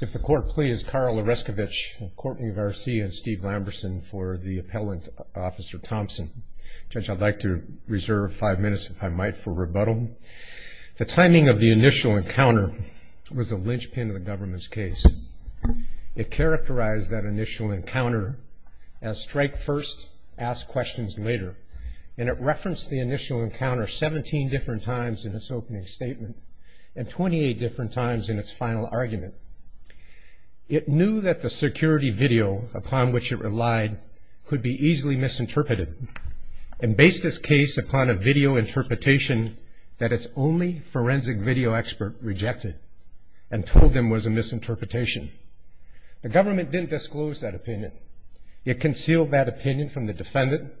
If the court please, Karl Oreskevich, Courtney Garcia, and Steve Lamberson for the appellant, Officer Thompson. Judge, I'd like to reserve five minutes, if I might, for rebuttal. The timing of the initial encounter was a linchpin of the government's case. It characterized that initial encounter as strike first, ask questions later. And it referenced the initial encounter 17 different times in its opening statement and 28 different times in its final argument. It knew that the security video upon which it relied could be easily misinterpreted and based its case upon a video interpretation that its only forensic video expert rejected and told them was a misinterpretation. The government didn't disclose that opinion. It concealed that opinion from the defendant,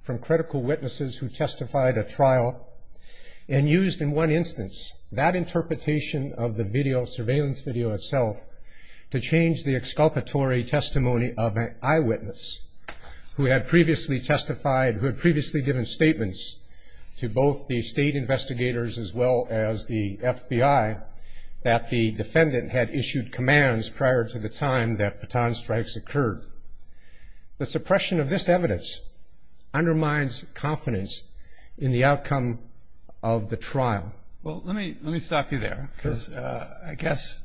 from critical witnesses who testified at trial, and used in one instance that interpretation of the surveillance video itself to change the exculpatory testimony of an eyewitness who had previously testified, who had previously given statements to both the state investigators as well as the FBI that the defendant had issued commands prior to the time that baton strikes occurred. The suppression of this evidence undermines confidence in the outcome of the trial. Well, let me stop you there because I guess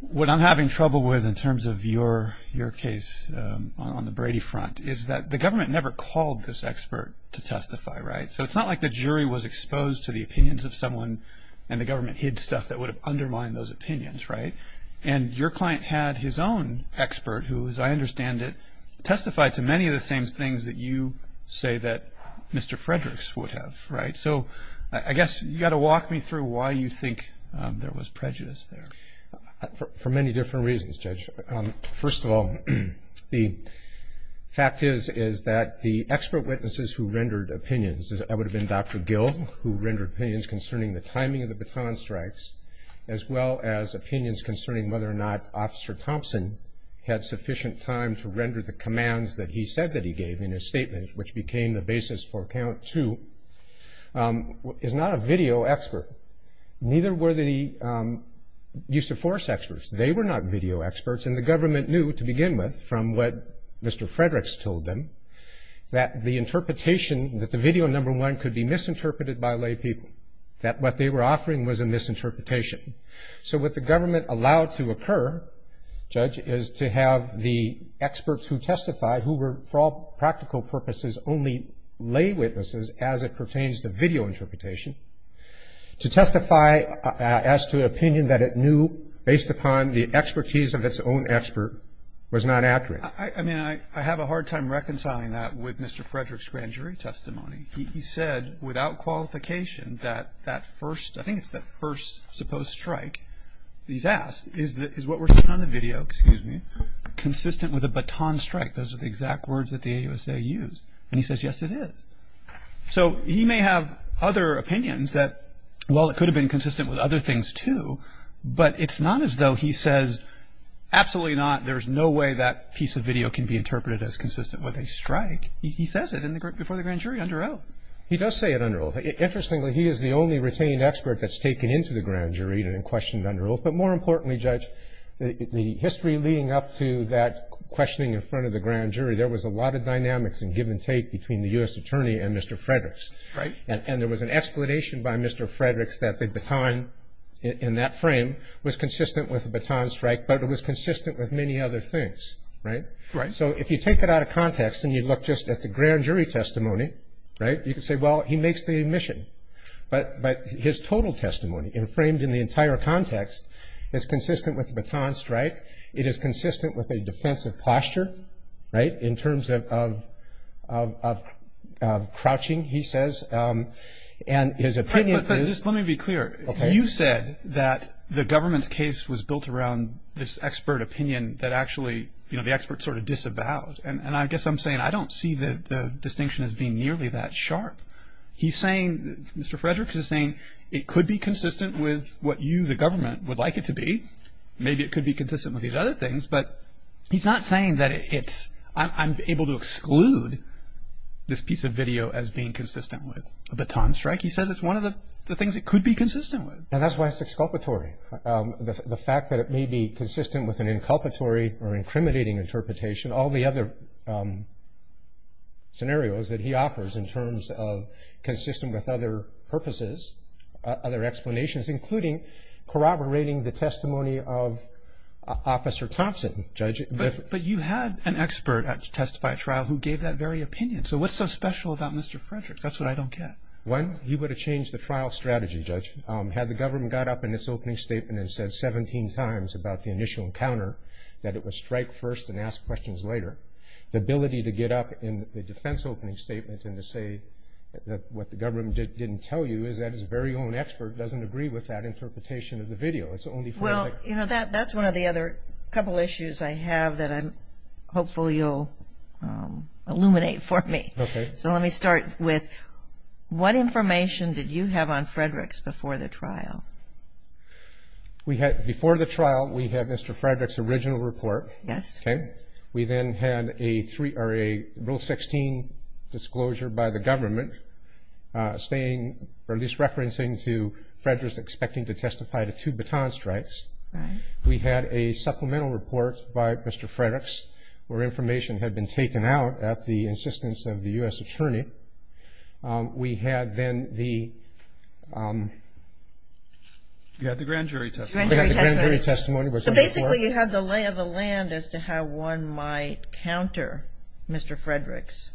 what I'm having trouble with in terms of your case on the Brady front is that the government never called this expert to testify, right? So it's not like the jury was exposed to the opinions of someone and the government hid stuff that would have undermined those opinions, right? And your client had his own expert who, as I understand it, testified to many of the same things that you say that Mr. Fredericks would have, right? So I guess you've got to walk me through why you think there was prejudice there. For many different reasons, Judge. First of all, the fact is that the expert witnesses who rendered opinions, that would have been Dr. Gill who rendered opinions concerning the timing of the baton strikes as well as opinions concerning whether or not Officer Thompson had sufficient time to render the commands that he said that he gave in his statement, which became the basis for count two, is not a video expert. Neither were the use of force experts. They were not video experts, and the government knew to begin with, from what Mr. Fredericks told them, that the interpretation, that the video, number one, could be misinterpreted by lay people, that what they were offering was a misinterpretation. So what the government allowed to occur, Judge, is to have the experts who testified who were, for all practical purposes, only lay witnesses as it pertains to video interpretation, to testify as to an opinion that it knew, based upon the expertise of its own expert, was not accurate. I mean, I have a hard time reconciling that with Mr. Fredericks' grand jury testimony. He said, without qualification, that that first, I think it's that first supposed strike he's asked, is what we're seeing on the video consistent with a baton strike? Those are the exact words that the AUSA used. And he says, yes, it is. So he may have other opinions that, well, it could have been consistent with other things, too, but it's not as though he says, absolutely not, there's no way that piece of video can be interpreted as consistent with a strike. He says it before the grand jury under oath. He does say it under oath. Interestingly, he is the only retained expert that's taken into the grand jury and questioned under oath. But more importantly, Judge, the history leading up to that questioning in front of the grand jury, there was a lot of dynamics in give and take between the U.S. attorney and Mr. Fredericks. Right. And there was an explanation by Mr. Fredericks that the baton in that frame was consistent with a baton strike, but it was consistent with many other things, right? Right. So if you take it out of context and you look just at the grand jury testimony, right, you can say, well, he makes the admission. But his total testimony framed in the entire context is consistent with the baton strike. It is consistent with a defensive posture, right, in terms of crouching, he says. And his opinion is – But just let me be clear. Okay. You said that the government's case was built around this expert opinion that actually, you know, the experts sort of disavowed. And I guess I'm saying I don't see the distinction as being nearly that sharp. He's saying – Mr. Fredericks is saying it could be consistent with what you, the government, would like it to be. Maybe it could be consistent with these other things. But he's not saying that it's – I'm able to exclude this piece of video as being consistent with a baton strike. He says it's one of the things it could be consistent with. And that's why it's exculpatory. The fact that it may be consistent with an inculpatory or incriminating interpretation, all the other scenarios that he offers in terms of consistent with other purposes, other explanations, including corroborating the testimony of Officer Thompson, Judge. But you had an expert at Testify Trial who gave that very opinion. So what's so special about Mr. Fredericks? That's what I don't get. One, he would have changed the trial strategy, Judge. Had the government got up in its opening statement and said 17 times about the initial encounter, that it would strike first and ask questions later, the ability to get up in the defense opening statement and to say what the government didn't tell you is that his very own expert doesn't agree with that interpretation of the video. It's only for – Well, you know, that's one of the other couple issues I have that I'm – hopefully you'll illuminate for me. Okay. So let me start with what information did you have on Fredericks before the trial? We had – before the trial, we had Mr. Fredericks' original report. Yes. Okay. We then had a rule 16 disclosure by the government, at least referencing to Fredericks expecting to testify to two baton strikes. Right. We had a supplemental report by Mr. Fredericks where information had been taken out at the insistence of the U.S. attorney. We had then the – You had the grand jury testimony. The grand jury testimony. So basically you had the lay of the land as to how one might counter Mr. Fredericks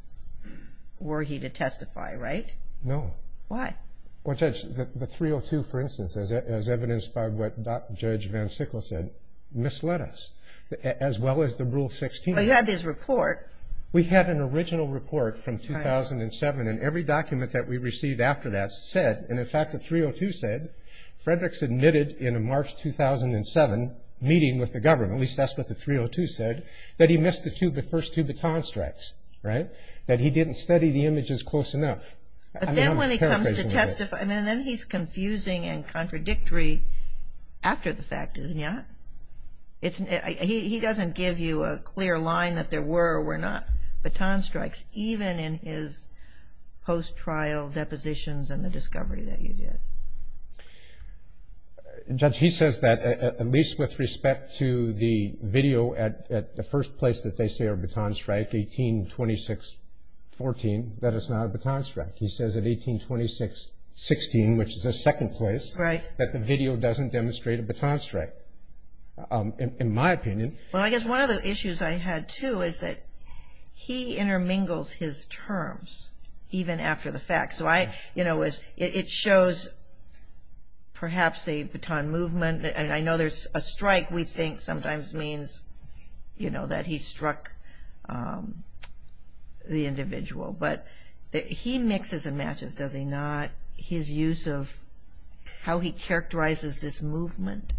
were he to testify, right? No. Why? Well, Judge, the 302, for instance, as evidenced by what Judge Van Sickle said, misled us as well as the rule 16. Well, you had his report. We had an original report from 2007, and every document that we received after that said, and in fact the 302 said, Fredericks admitted in a March 2007 meeting with the government, at least that's what the 302 said, that he missed the first two baton strikes, right, that he didn't study the images close enough. But then when he comes to testify, and then he's confusing and contradictory after the fact, isn't he? He doesn't give you a clear line that there were or were not baton strikes, even in his post-trial depositions and the discovery that you did. Judge, he says that, at least with respect to the video, at the first place that they see a baton strike, 1826.14, that it's not a baton strike. He says at 1826.16, which is the second place, that the video doesn't demonstrate a baton strike, in my opinion. Well, I guess one of the issues I had, too, is that he intermingles his terms, even after the fact. So I, you know, it shows perhaps a baton movement, and I know there's a strike we think sometimes means, you know, that he struck the individual. But he mixes and matches, does he not, his use of how he characterizes this movement?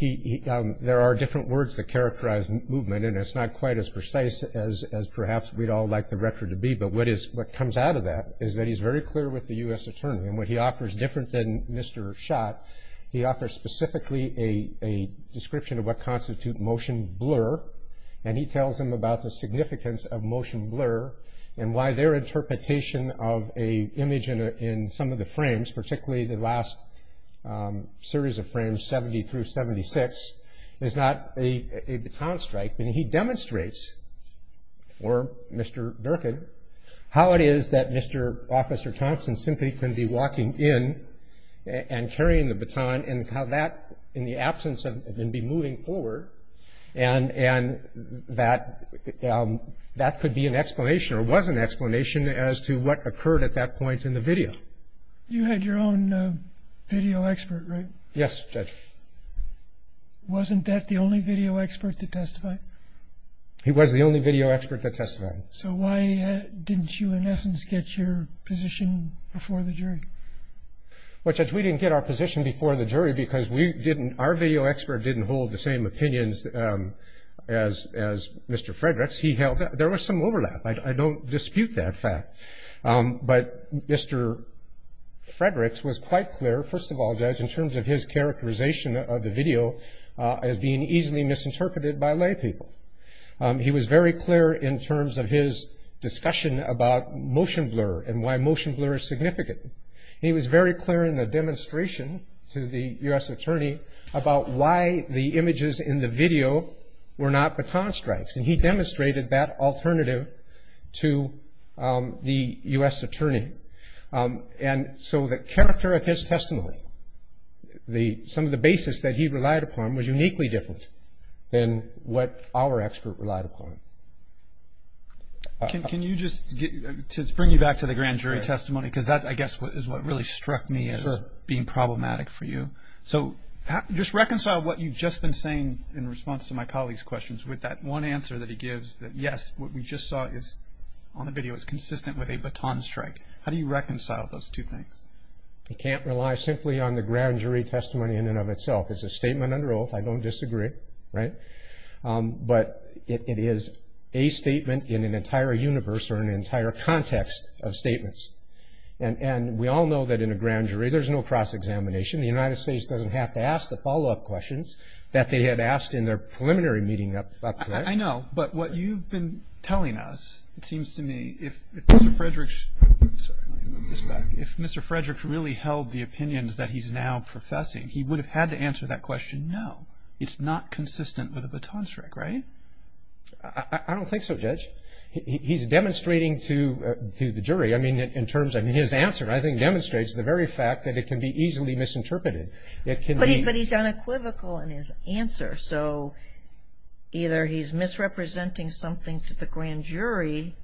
There are different words that characterize movement, and it's not quite as precise as perhaps we'd all like the record to be. But what comes out of that is that he's very clear with the U.S. Attorney. And what he offers, different than Mr. Schott, he offers specifically a description of what constitutes motion blur. And he tells him about the significance of motion blur and why their interpretation of an image in some of the frames, particularly the last series of frames, 70 through 76, is not a baton strike. And he demonstrates for Mr. Durkin how it is that Mr. Officer Thompson simply could be walking in and carrying the baton and how that, in the absence of him be moving forward, and that could be an explanation or was an explanation as to what occurred at that point in the video. You had your own video expert, right? Yes, Judge. Wasn't that the only video expert that testified? He was the only video expert that testified. So why didn't you, in essence, get your position before the jury? Well, Judge, we didn't get our position before the jury because our video expert didn't hold the same opinions as Mr. Fredericks. There was some overlap. I don't dispute that fact. But Mr. Fredericks was quite clear, first of all, Judge, in terms of his characterization of the video as being easily misinterpreted by laypeople. He was very clear in terms of his discussion about motion blur and why motion blur is significant. He was very clear in the demonstration to the U.S. attorney about why the images in the video were not baton strikes, and he demonstrated that alternative to the U.S. attorney. And so the character of his testimony, some of the basis that he relied upon, was uniquely different than what our expert relied upon. Can you just bring me back to the grand jury testimony? Because that, I guess, is what really struck me as being problematic for you. So just reconcile what you've just been saying in response to my colleague's questions with that one answer that he gives that, yes, what we just saw on the video is consistent with a baton strike. How do you reconcile those two things? I can't rely simply on the grand jury testimony in and of itself. It's a statement under oath. I don't disagree, right? But it is a statement in an entire universe or an entire context of statements. And we all know that in a grand jury there's no cross-examination. The United States doesn't have to ask the follow-up questions that they had asked in their preliminary meeting up to that. I know. But what you've been telling us, it seems to me, if Mr. Frederick's really held the opinions that he's now professing, he would have had to answer that question, no, it's not consistent with a baton strike, right? I don't think so, Judge. He's demonstrating to the jury, I mean, in terms of his answer, I think demonstrates the very fact that it can be easily misinterpreted. But he's unequivocal in his answer. So either he's misrepresenting something to the grand jury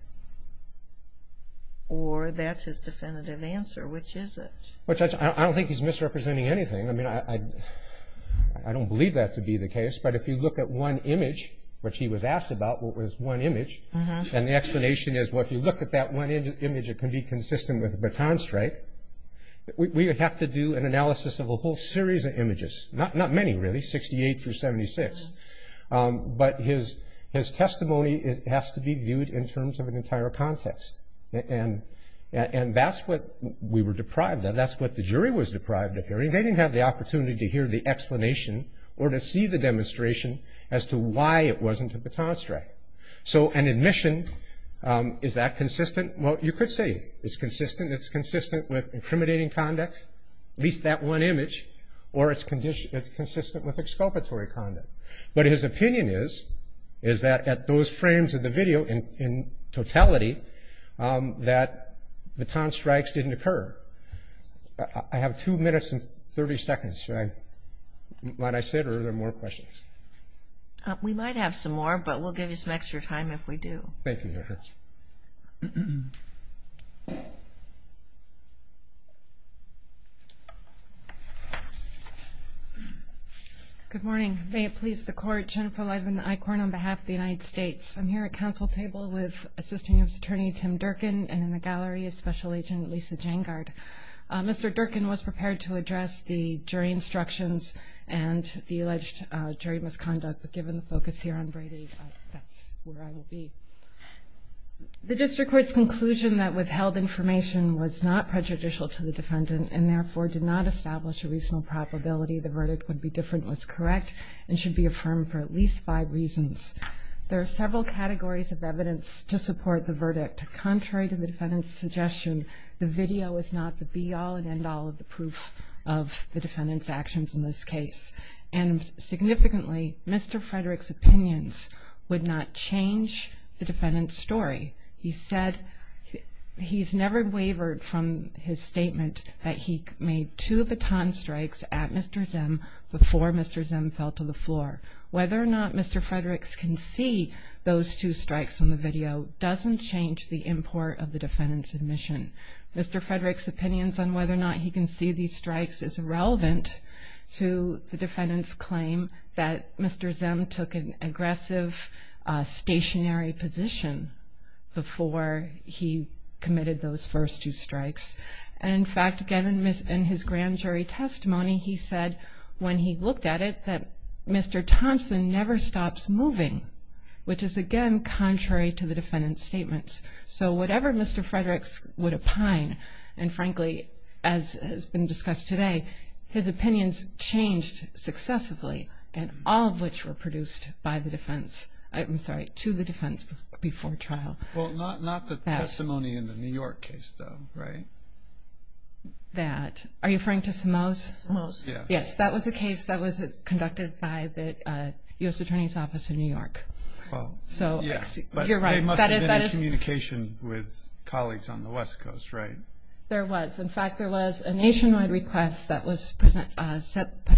or that's his definitive answer. Which is it? Well, Judge, I don't think he's misrepresenting anything. I mean, I don't believe that to be the case. But if you look at one image, which he was asked about, what was one image, and the explanation is, well, if you look at that one image, it can be consistent with a baton strike. We would have to do an analysis of a whole series of images, not many really, 68 through 76, but his testimony has to be viewed in terms of an entire context. And that's what we were deprived of. That's what the jury was deprived of hearing. They didn't have the opportunity to hear the explanation or to see the demonstration as to why it wasn't a baton strike. So an admission, is that consistent? Well, you could say it's consistent. It's consistent with incriminating conduct, at least that one image, or it's consistent with exculpatory conduct. But his opinion is, is that at those frames of the video in totality, that baton strikes didn't occur. I have two minutes and 30 seconds. Should I, might I say it or are there more questions? We might have some more, but we'll give you some extra time if we do. Thank you, Judge. Good morning. May it please the Court. Jennifer Levin, ICORN, on behalf of the United States. I'm here at council table with Assistant U.S. Attorney Tim Durkin, and in the gallery is Special Agent Lisa Jangard. Mr. Durkin was prepared to address the jury instructions and the alleged jury misconduct, but given the focus here on Brady, that's where I will be. The district court's conclusion that withheld information was not prejudicial to the defendant and therefore did not establish a reasonable probability the verdict would be different was correct and should be affirmed for at least five reasons. There are several categories of evidence to support the verdict. Contrary to the defendant's suggestion, the video is not the be-all and end-all of the proof of the defendant's actions in this case. And significantly, Mr. Frederick's opinions would not change the defendant's story. He said he's never wavered from his statement that he made two baton strikes at Mr. Zimm before Mr. Zimm fell to the floor. Whether or not Mr. Frederick can see those two strikes on the video doesn't change the import of the defendant's admission. Mr. Frederick's opinions on whether or not he can see these strikes is irrelevant to the defendant's claim that Mr. Zimm took an aggressive, stationary position before he committed those first two strikes. And in fact, again, in his grand jury testimony, he said when he looked at it that Mr. Thompson never stops moving, which is again contrary to the defendant's statements. So whatever Mr. Frederick would opine, and frankly, as has been discussed today, his opinions changed successively, and all of which were produced by the defense. I'm sorry, to the defense before trial. Well, not the testimony in the New York case, though, right? That. Are you referring to Simoes? Simoes. Yes, that was a case that was conducted by the U.S. Attorney's Office in New York. So you're right. There must have been a communication with colleagues on the West Coast, right? There was. In fact, there was a nationwide request that was put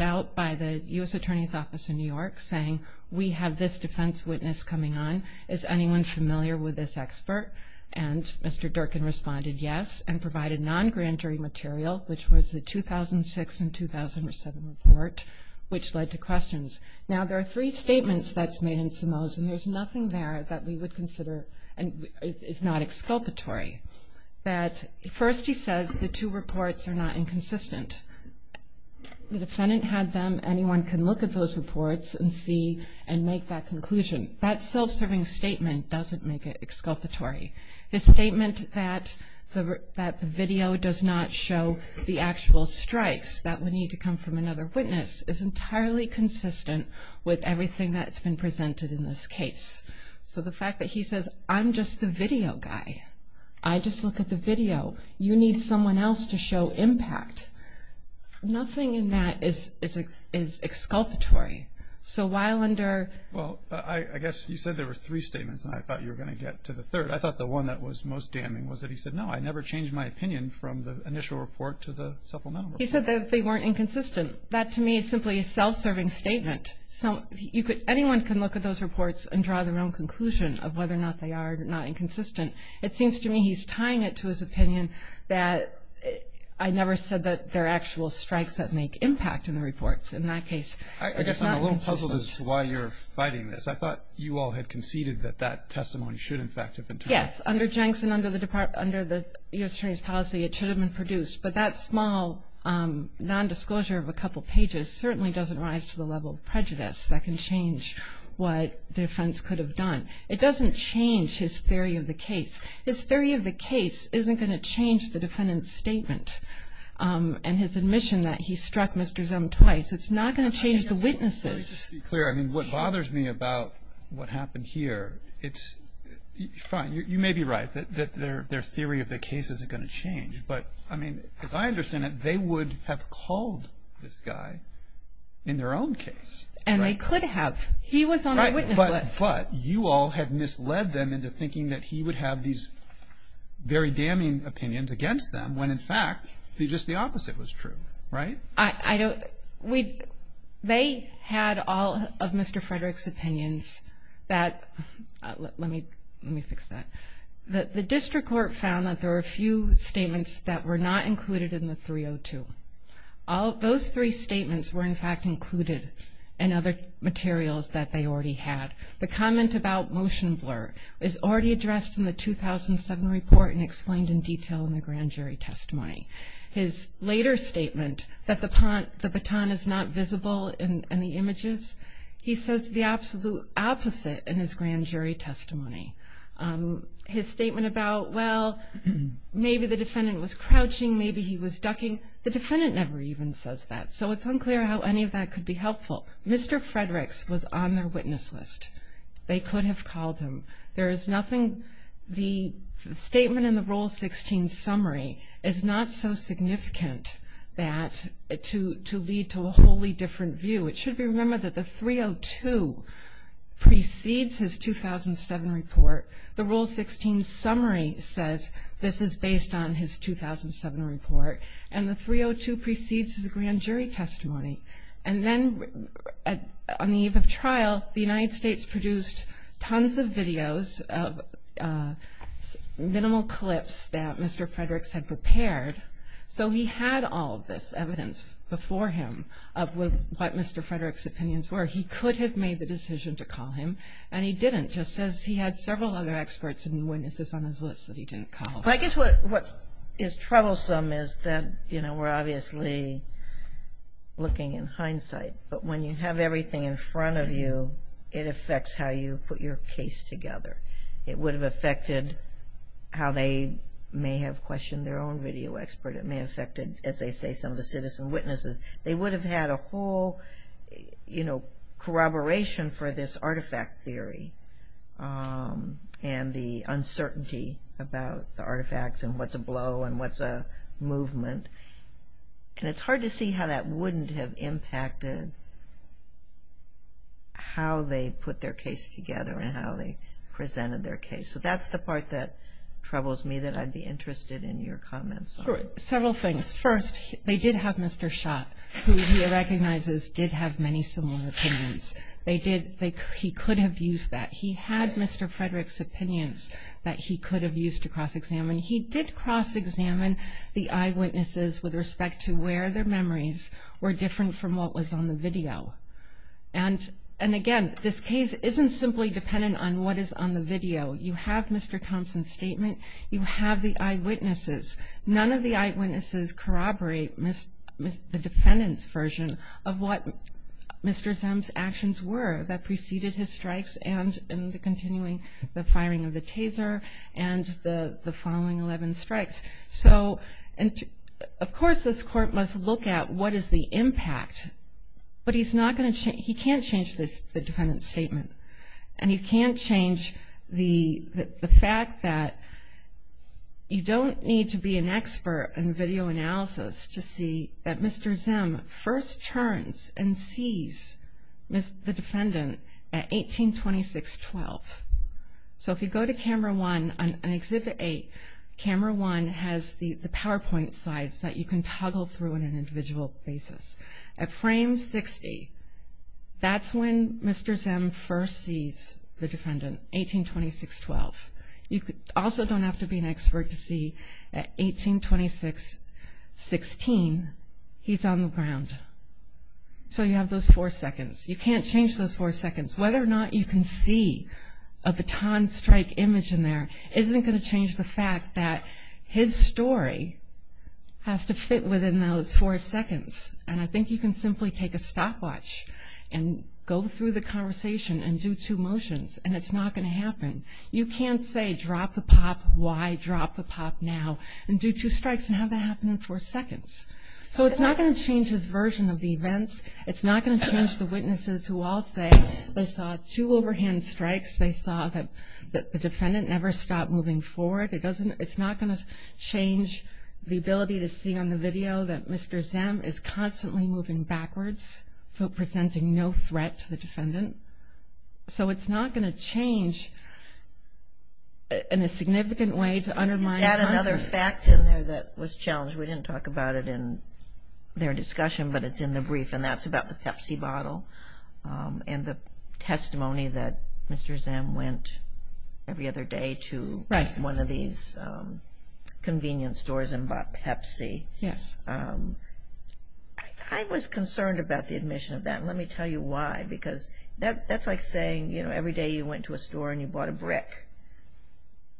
out by the U.S. Attorney's Office in New York saying we have this defense witness coming on. Is anyone familiar with this expert? And Mr. Durkin responded yes, and provided non-grand jury material, which was the 2006 and 2007 report, which led to questions. Now, there are three statements that's made in Simoes, and there's nothing there that we would consider is not exculpatory. First, he says the two reports are not inconsistent. The defendant had them. Anyone can look at those reports and see and make that conclusion. That self-serving statement doesn't make it exculpatory. The statement that the video does not show the actual strikes that would need to come from another witness is entirely consistent with everything that's been presented in this case. So the fact that he says, I'm just the video guy, I just look at the video, you need someone else to show impact, nothing in that is exculpatory. So while under – Well, I guess you said there were three statements, and I thought you were going to get to the third. I thought the one that was most damning was that he said, no, I never changed my opinion from the initial report to the supplemental report. He said that they weren't inconsistent. That, to me, is simply a self-serving statement. Anyone can look at those reports and draw their own conclusion of whether or not they are not inconsistent. It seems to me he's tying it to his opinion that I never said that there are actual strikes that make impact in the reports in that case. I guess I'm a little puzzled as to why you're fighting this. I thought you all had conceded that that testimony should, in fact, have been turned down. Yes, under Jenks and under the U.S. Attorney's policy, it should have been produced. But that small nondisclosure of a couple pages certainly doesn't rise to the level of prejudice that can change what the defense could have done. It doesn't change his theory of the case. His theory of the case isn't going to change the defendant's statement and his admission that he struck Mr. Zim twice. It's not going to change the witnesses. Let me just be clear. I mean, what bothers me about what happened here, it's – fine, you may be right that their theory of the case isn't going to change. But, I mean, as I understand it, they would have called this guy in their own case. And they could have. He was on the witness list. But you all had misled them into thinking that he would have these very damning opinions against them when, in fact, just the opposite was true, right? I don't – we – they had all of Mr. Frederick's opinions that – let me fix that. The district court found that there were a few statements that were not included in the 302. Those three statements were, in fact, included in other materials that they already had. The comment about motion blur is already addressed in the 2007 report and explained in detail in the grand jury testimony. His later statement that the baton is not visible in the images, he says the absolute opposite in his grand jury testimony. His statement about, well, maybe the defendant was crouching, maybe he was ducking, the defendant never even says that. So it's unclear how any of that could be helpful. Mr. Frederick's was on their witness list. They could have called him. There is nothing – the statement in the Rule 16 summary is not so significant that – to lead to a wholly different view. It should be remembered that the 302 precedes his 2007 report. The Rule 16 summary says this is based on his 2007 report, and the 302 precedes his grand jury testimony. And then on the eve of trial, the United States produced tons of videos of minimal clips that Mr. Frederick's had prepared. So he had all of this evidence before him of what Mr. Frederick's opinions were. He could have made the decision to call him, and he didn't, just as he had several other experts and witnesses on his list that he didn't call. I guess what is troublesome is that, you know, we're obviously looking in hindsight. But when you have everything in front of you, it affects how you put your case together. It would have affected how they may have questioned their own video expert. It may have affected, as they say, some of the citizen witnesses. They would have had a whole, you know, corroboration for this artifact theory and the uncertainty about the artifacts and what's a blow and what's a movement. And it's hard to see how that wouldn't have impacted how they put their case together and how they presented their case. So that's the part that troubles me that I'd be interested in your comments on. Several things. First, they did have Mr. Schott, who he recognizes did have many similar opinions. He could have used that. He had Mr. Frederick's opinions that he could have used to cross-examine. He did cross-examine the eyewitnesses with respect to where their memories were different from what was on the video. And, again, this case isn't simply dependent on what is on the video. You have Mr. Thompson's statement. You have the eyewitnesses. None of the eyewitnesses corroborate the defendant's version of what Mr. Zemp's actions were that preceded his strikes and the continuing firing of the taser and the following 11 strikes. So, of course, this court must look at what is the impact. But he can't change the defendant's statement. And he can't change the fact that you don't need to be an expert in video analysis to see that Mr. Zemp first turns and sees the defendant at 18-26-12. So if you go to Camera 1 on Exhibit 8, Camera 1 has the PowerPoint slides that you can toggle through on an individual basis. At frame 60, that's when Mr. Zemp first sees the defendant, 18-26-12. You also don't have to be an expert to see at 18-26-16, he's on the ground. So you have those four seconds. You can't change those four seconds. Whether or not you can see a baton strike image in there isn't going to change the fact that his story has to fit within those four seconds. And I think you can simply take a stopwatch and go through the conversation and do two motions, and it's not going to happen. You can't say drop the pop, why drop the pop now, and do two strikes and have that happen in four seconds. So it's not going to change his version of the events. It's not going to change the witnesses who all say they saw two overhand strikes, they saw that the defendant never stopped moving forward. It's not going to change the ability to see on the video that Mr. Zemp is constantly moving backwards, presenting no threat to the defendant. So it's not going to change in a significant way to undermine confidence. You had another fact in there that was challenged. We didn't talk about it in their discussion, but it's in the brief, and that's about the Pepsi bottle and the testimony that Mr. Zemp went every other day to one of these convenience stores and bought Pepsi. Yes. I was concerned about the admission of that, and let me tell you why, because that's like saying every day you went to a store and you bought a brick.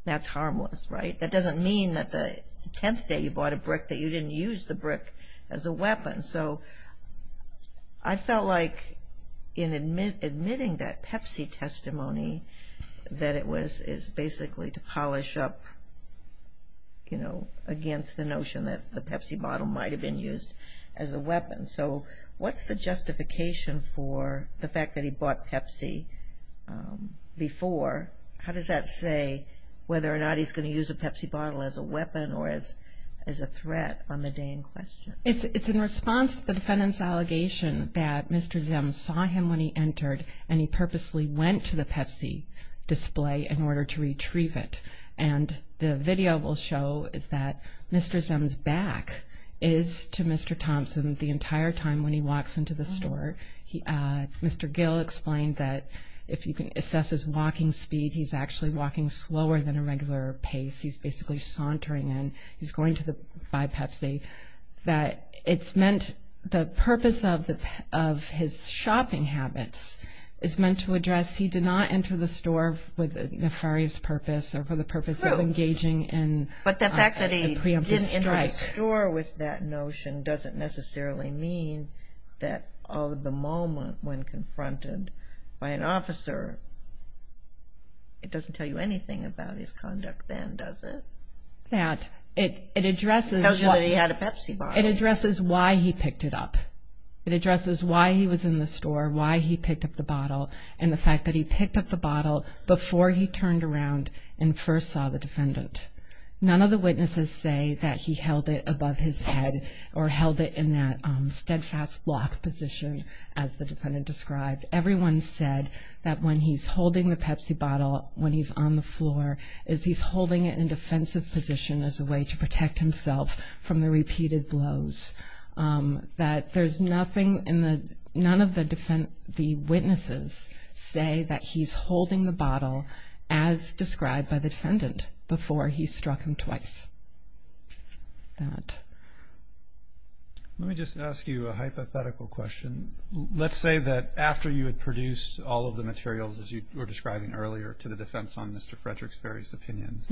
That's harmless, right? That doesn't mean that the 10th day you bought a brick that you didn't use the brick as a weapon. So I felt like in admitting that Pepsi testimony that it was basically to polish up, you know, against the notion that the Pepsi bottle might have been used as a weapon. So what's the justification for the fact that he bought Pepsi before? How does that say whether or not he's going to use a Pepsi bottle as a weapon or as a threat on the day in question? It's in response to the defendant's allegation that Mr. Zemp saw him when he entered and he purposely went to the Pepsi display in order to retrieve it. And the video will show that Mr. Zemp's back is to Mr. Thompson the entire time when he walks into the store. Mr. Gill explained that if you can assess his walking speed, he's actually walking slower than a regular pace. He's basically sauntering and he's going to buy Pepsi. That it's meant the purpose of his shopping habits is meant to address he did not enter the store with a nefarious purpose or for the purpose of engaging in a preemptive strike. But the fact that he didn't enter the store with that notion doesn't necessarily mean that of the moment when confronted by an officer, it doesn't tell you anything about his conduct then, does it? It addresses why he picked it up. It addresses why he was in the store, why he picked up the bottle, and the fact that he picked up the bottle before he turned around and first saw the defendant. None of the witnesses say that he held it above his head or held it in that steadfast lock position as the defendant described. Everyone said that when he's holding the Pepsi bottle, when he's on the floor, is he's holding it in defensive position as a way to protect himself from the repeated blows. That there's nothing in the, none of the witnesses say that he's holding the bottle as described by the defendant before he struck him twice. That. Let me just ask you a hypothetical question. Let's say that after you had produced all of the materials as you were describing earlier to the defense on Mr. Frederick's various opinions,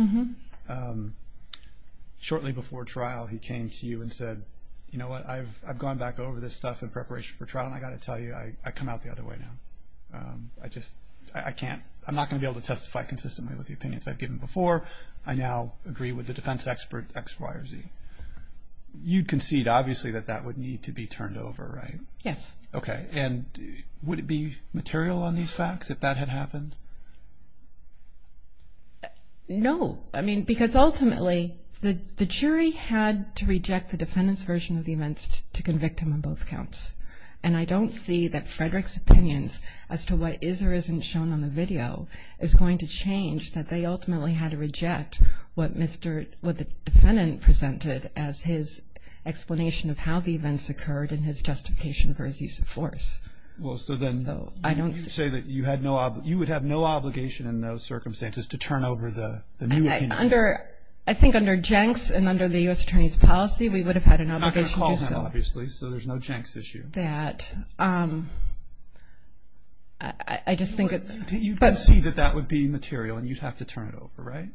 shortly before trial he came to you and said, you know what, I've gone back over this stuff in preparation for trial, and I've got to tell you, I come out the other way now. I just, I can't, I'm not going to be able to testify consistently with the opinions I've given before. I now agree with the defense expert X, Y, or Z. You'd concede obviously that that would need to be turned over, right? Yes. Okay. And would it be material on these facts if that had happened? No. I mean, because ultimately the jury had to reject the defendant's version of the events to convict him on both counts. And I don't see that Frederick's opinions as to what is or isn't shown on the video is going to change that they ultimately had to reject what the defendant presented as his explanation of how the events occurred and his justification for his use of force. Well, so then you would have no obligation in those circumstances to turn over the new opinion? I think under Jenks and under the U.S. Attorney's policy we would have had an obligation to do so. You're not going to call him, obviously, so there's no Jenks issue. I agree with that. I just think that... Do you concede that that would be material and you'd have to turn it over, right?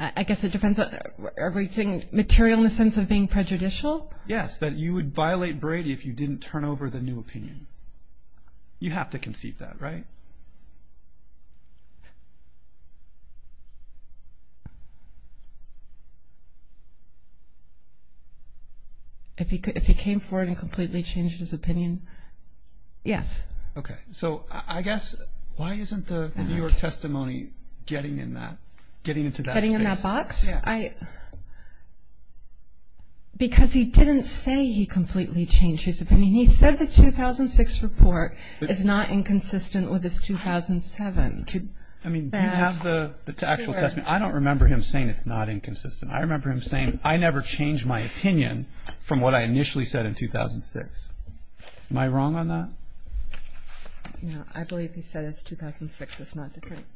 I guess it depends. Are we saying material in the sense of being prejudicial? Yes, that you would violate Brady if you didn't turn over the new opinion. You have to concede that, right? If he came forward and completely changed his opinion, yes. Okay. So I guess why isn't the New York testimony getting in that, getting into that space? Getting in that box? Yeah. Because he didn't say he completely changed his opinion. He said the 2006 report is not inconsistent with his 2007. I mean, do you have the actual testimony? I don't remember him saying it's not inconsistent. I remember him saying, I never changed my opinion from what I initially said in 2006. Am I wrong on that? I believe he said it's 2006. It's not different. Okay.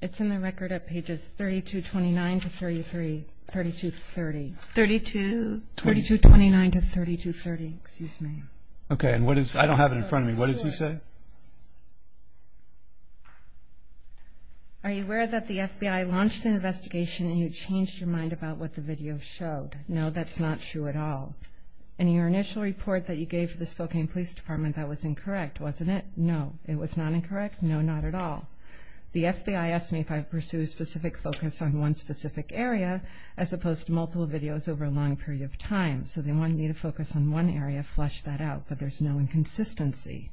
It's in the record at pages 3229 to 3230. 32? 3229 to 3230. Excuse me. Okay. I don't have it in front of me. What does he say? Are you aware that the FBI launched an investigation and you changed your mind about what the video showed? No, that's not true at all. In your initial report that you gave to the Spokane Police Department, that was incorrect, wasn't it? No, it was not incorrect. No, not at all. The FBI asked me if I pursue a specific focus on one specific area as opposed to multiple videos over a long period of time. So they wanted me to focus on one area, flesh that out. But there's no inconsistency.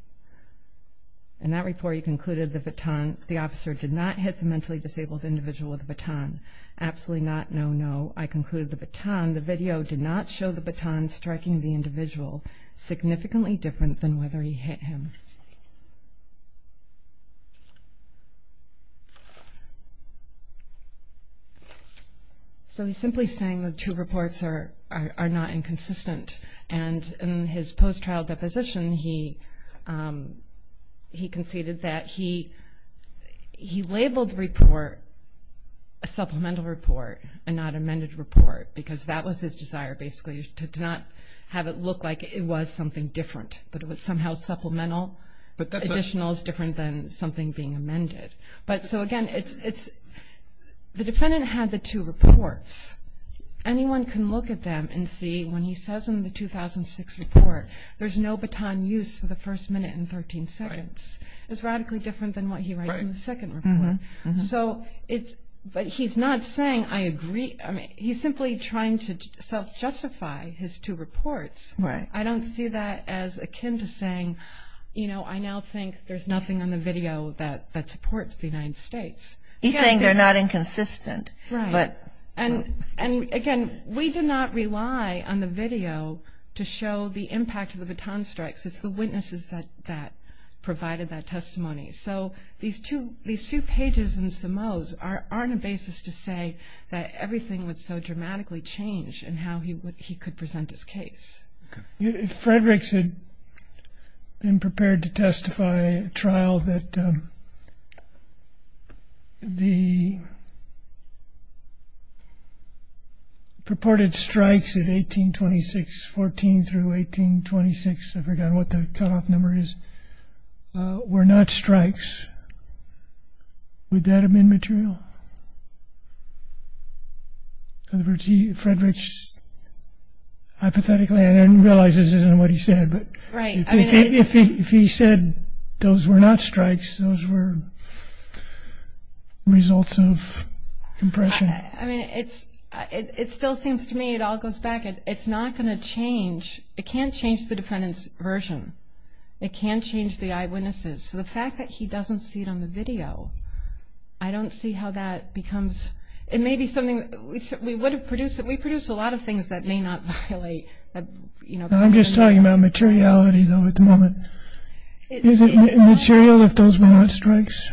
In that report, you concluded the officer did not hit the mentally disabled individual with a baton. Absolutely not. No, no. I concluded the video did not show the baton striking the individual significantly different than whether he hit him. So he's simply saying the two reports are not inconsistent. And in his post-trial deposition, he conceded that he labeled the report a supplemental report and not amended report because that was his desire, basically, to not have it look like it was something different. But it was somehow supplemental. Additional is different than something being amended. So, again, the defendant had the two reports. Anyone can look at them and see when he says in the 2006 report, there's no baton use for the first minute and 13 seconds. It's radically different than what he writes in the second report. But he's not saying I agree. He's simply trying to self-justify his two reports. I don't see that as akin to saying, you know, I now think there's nothing on the video that supports the United States. He's saying they're not inconsistent. Right. And, again, we did not rely on the video to show the impact of the baton strikes. It's the witnesses that provided that testimony. So these two pages in Simoes are on a basis to say that everything would so dramatically change in how he could present his case. If Frederick had been prepared to testify at trial that the purported strikes of 1826, 14 through 1826, I forgot what the cutoff number is, were not strikes, would that have been material? In other words, Frederick, hypothetically, I realize this isn't what he said, but if he said those were not strikes, those were results of compression. I mean, it still seems to me it all goes back. It's not going to change. It can't change the defendant's version. It can't change the eyewitnesses. So the fact that he doesn't see it on the video, I don't see how that becomes. It may be something we would have produced. We produced a lot of things that may not violate. I'm just talking about materiality, though, at the moment. Is it material if those were not strikes?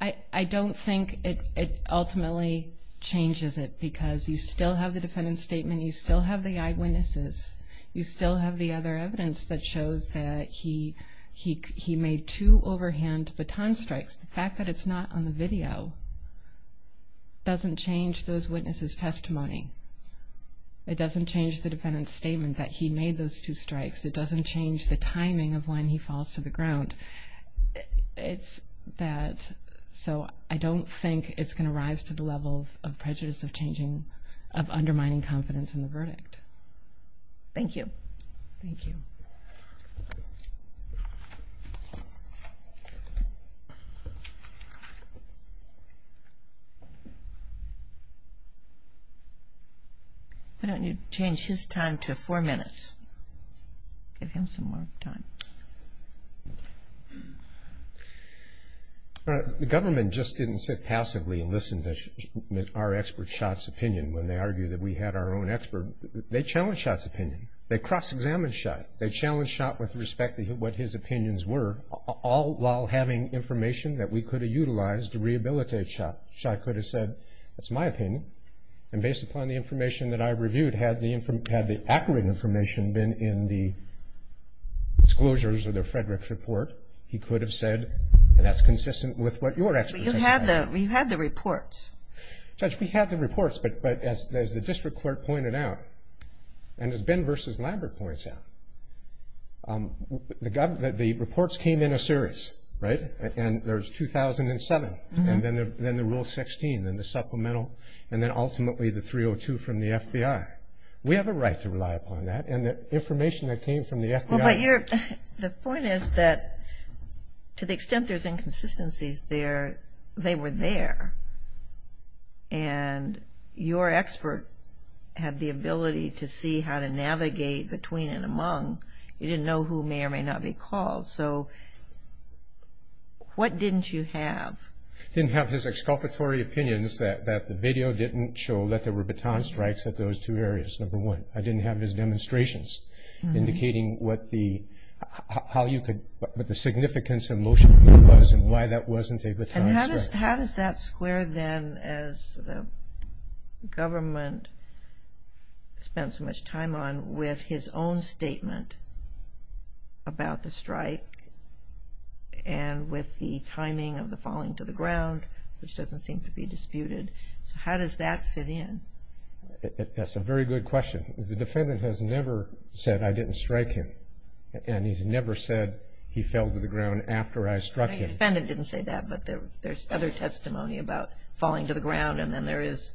I don't think it ultimately changes it because you still have the defendant's statement. You still have the eyewitnesses. You still have the other evidence that shows that he made two overhand baton strikes. The fact that it's not on the video doesn't change those witnesses' testimony. It doesn't change the defendant's statement that he made those two strikes. It doesn't change the timing of when he falls to the ground. It's that so I don't think it's going to rise to the level of prejudice of changing, of undermining confidence in the verdict. Thank you. Thank you. Why don't you change his time to four minutes? Give him some more time. The government just didn't sit passively and listen to our experts' shots opinion when they argued that we had our own expert. They challenged Shot's opinion. They cross-examined Shot. They challenged Shot with respect to what his opinions were, all while having information that we could have utilized to rehabilitate Shot. Shot could have said, that's my opinion. And based upon the information that I reviewed, had the accurate information been in the disclosures of the Frederick's report, he could have said, and that's consistent with what your experts have said. But you had the reports. Judge, we had the reports. But as the district court pointed out, and as Ben versus Lambert points out, the reports came in a series, right? And there's 2007 and then the Rule 16 and the supplemental and then ultimately the 302 from the FBI. We have a right to rely upon that. And the information that came from the FBI. The point is that to the extent there's inconsistencies there, they were there. And your expert had the ability to see how to navigate between and among. You didn't know who may or may not be called. So what didn't you have? I didn't have his exculpatory opinions that the video didn't show that there were baton strikes at those two areas, number one. I didn't have his demonstrations indicating what the significance of motion was and why that wasn't a baton strike. And how does that square then as the government spent so much time on with his own statement about the strike and with the timing of the falling to the ground, which doesn't seem to be disputed. So how does that fit in? That's a very good question. The defendant has never said, I didn't strike him. And he's never said he fell to the ground after I struck him. The defendant didn't say that, but there's other testimony about falling to the ground and then there is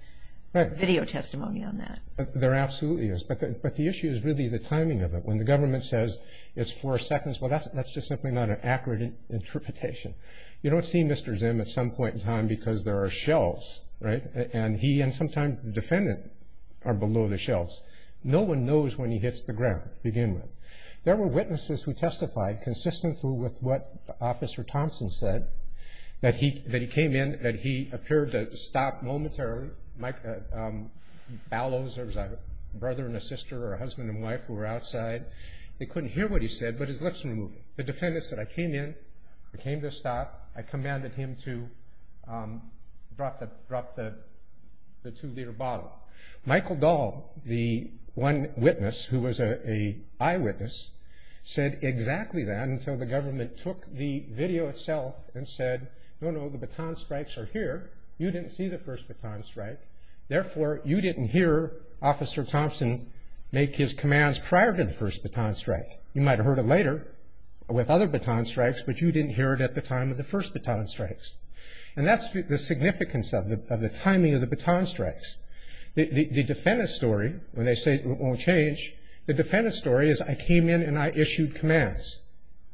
video testimony on that. There absolutely is. But the issue is really the timing of it. When the government says it's four seconds, well, that's just simply not an accurate interpretation. You don't see Mr. Zim at some point in time because there are shelves, right? And he and sometimes the defendant are below the shelves. No one knows when he hits the ground to begin with. There were witnesses who testified consistently with what Officer Thompson said, that he came in, that he appeared to stop momentarily. Ballows, there was a brother and a sister or a husband and wife who were outside. They couldn't hear what he said, but his lips were moving. The defendant said, I came in, I came to stop. I commanded him to drop the two-liter bottle. Michael Dahl, the one witness who was an eyewitness, said exactly that until the government took the video itself and said, no, no, the baton strikes are here. You didn't see the first baton strike. Therefore, you didn't hear Officer Thompson make his commands prior to the first baton strike. You might have heard it later with other baton strikes, but you didn't hear it at the time of the first baton strikes. And that's the significance of the timing of the baton strikes. The defendant's story, when they say it won't change, the defendant's story is, I came in and I issued commands.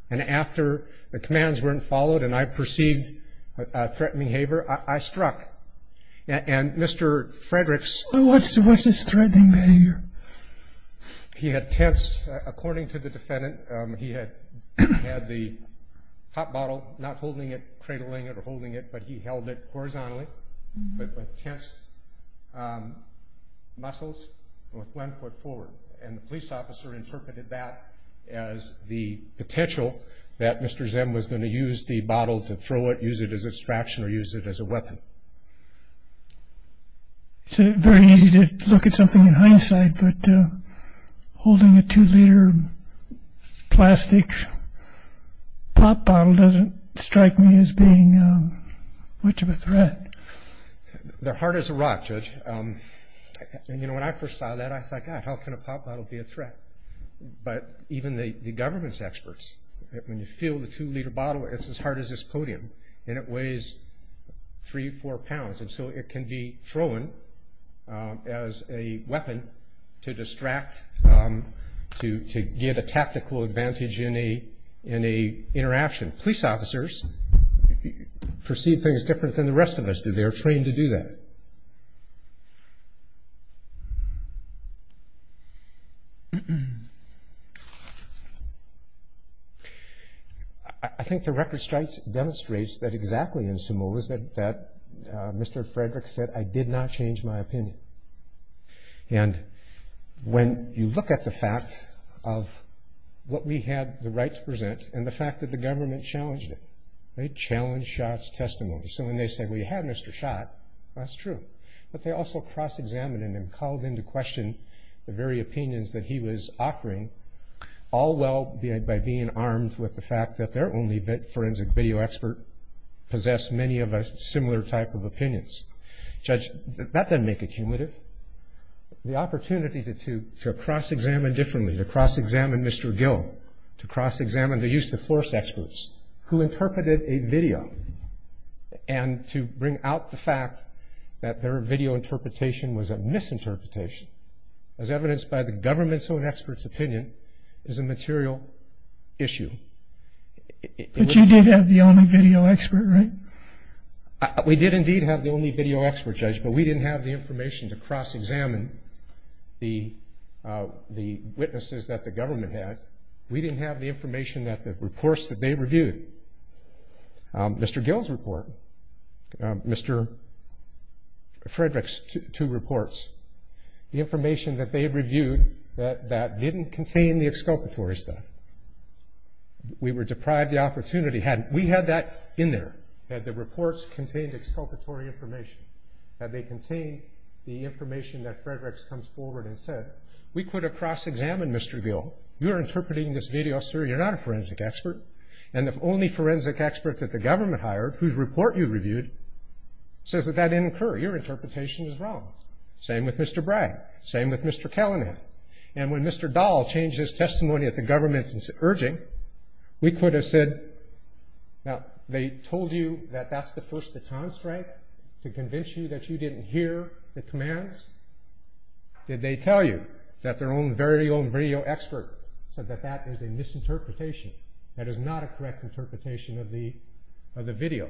And after the commands weren't followed and I perceived threatened behavior, I struck. And Mr. Frederick's – What's his threatening behavior? He had tensed, according to the defendant, he had the top bottle, not holding it, cradling it or holding it, but he held it horizontally with tensed muscles and with one foot forward. And the police officer interpreted that as the potential that Mr. Zem was going to use the bottle to throw it, use it as a distraction or use it as a weapon. It's very easy to look at something in hindsight, but holding a two-liter plastic pop bottle doesn't strike me as being much of a threat. They're hard as a rock, Judge. And, you know, when I first saw that, I thought, God, how can a pop bottle be a threat? But even the government's experts, when you feel the two-liter bottle, it's as hard as this podium, and it weighs three, four pounds, and so it can be thrown as a weapon to distract, to give a tactical advantage in a interaction. Police officers perceive things different than the rest of us do. They are trained to do that. I think the record strikes demonstrates that exactly in Samoa, that Mr. Frederick said, I did not change my opinion. And when you look at the fact of what we had the right to present and the fact that the government challenged it, they challenged Schott's testimony. So when they said, well, you had Mr. Schott, that's true. But they also cross-examined him and called into question the very opinions that he was offering, all while being armed with the fact that their only forensic video expert possessed many of a similar type of opinions. Judge, that doesn't make it cumulative. The opportunity to cross-examine differently, to cross-examine Mr. Gill, to cross-examine the use of force experts who interpreted a video, and to bring out the fact that their video interpretation was a misinterpretation, as evidenced by the government's own expert's opinion, is a material issue. But you did have the only video expert, right? We did indeed have the only video expert, Judge, but we didn't have the information to cross-examine the witnesses that the government had. We didn't have the information that the reports that they reviewed. Mr. Gill's report, Mr. Frederick's two reports, the information that they reviewed that didn't contain the exculpatory stuff. We were deprived the opportunity. Had we had that in there, had the reports contained exculpatory information, had they contained the information that Frederick's comes forward and said, we could have cross-examined Mr. Gill. You're interpreting this video, sir. You're not a forensic expert. And the only forensic expert that the government hired, whose report you reviewed, says that that didn't occur. Your interpretation is wrong. Same with Mr. Bragg. Same with Mr. Callanan. And when Mr. Dahl changed his testimony at the government's urging, we could have said, now, they told you that that's the first baton strike to convince you that you didn't hear the commands? Did they tell you that their own very own video expert said that that is a misinterpretation, that is not a correct interpretation of the video?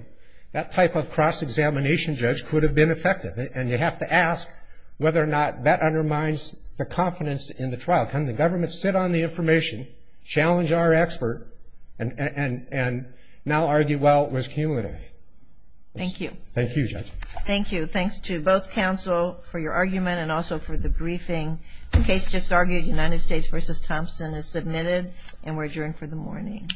That type of cross-examination, Judge, could have been effective, and you have to ask whether or not that undermines the confidence in the trial. Can the government sit on the information, challenge our expert, and now argue, well, it was cumulative? Thank you. Thank you, Judge. Thank you. Thanks to both counsel for your argument and also for the briefing. The case just argued, United States v. Thompson, is submitted, and we're adjourned for the morning.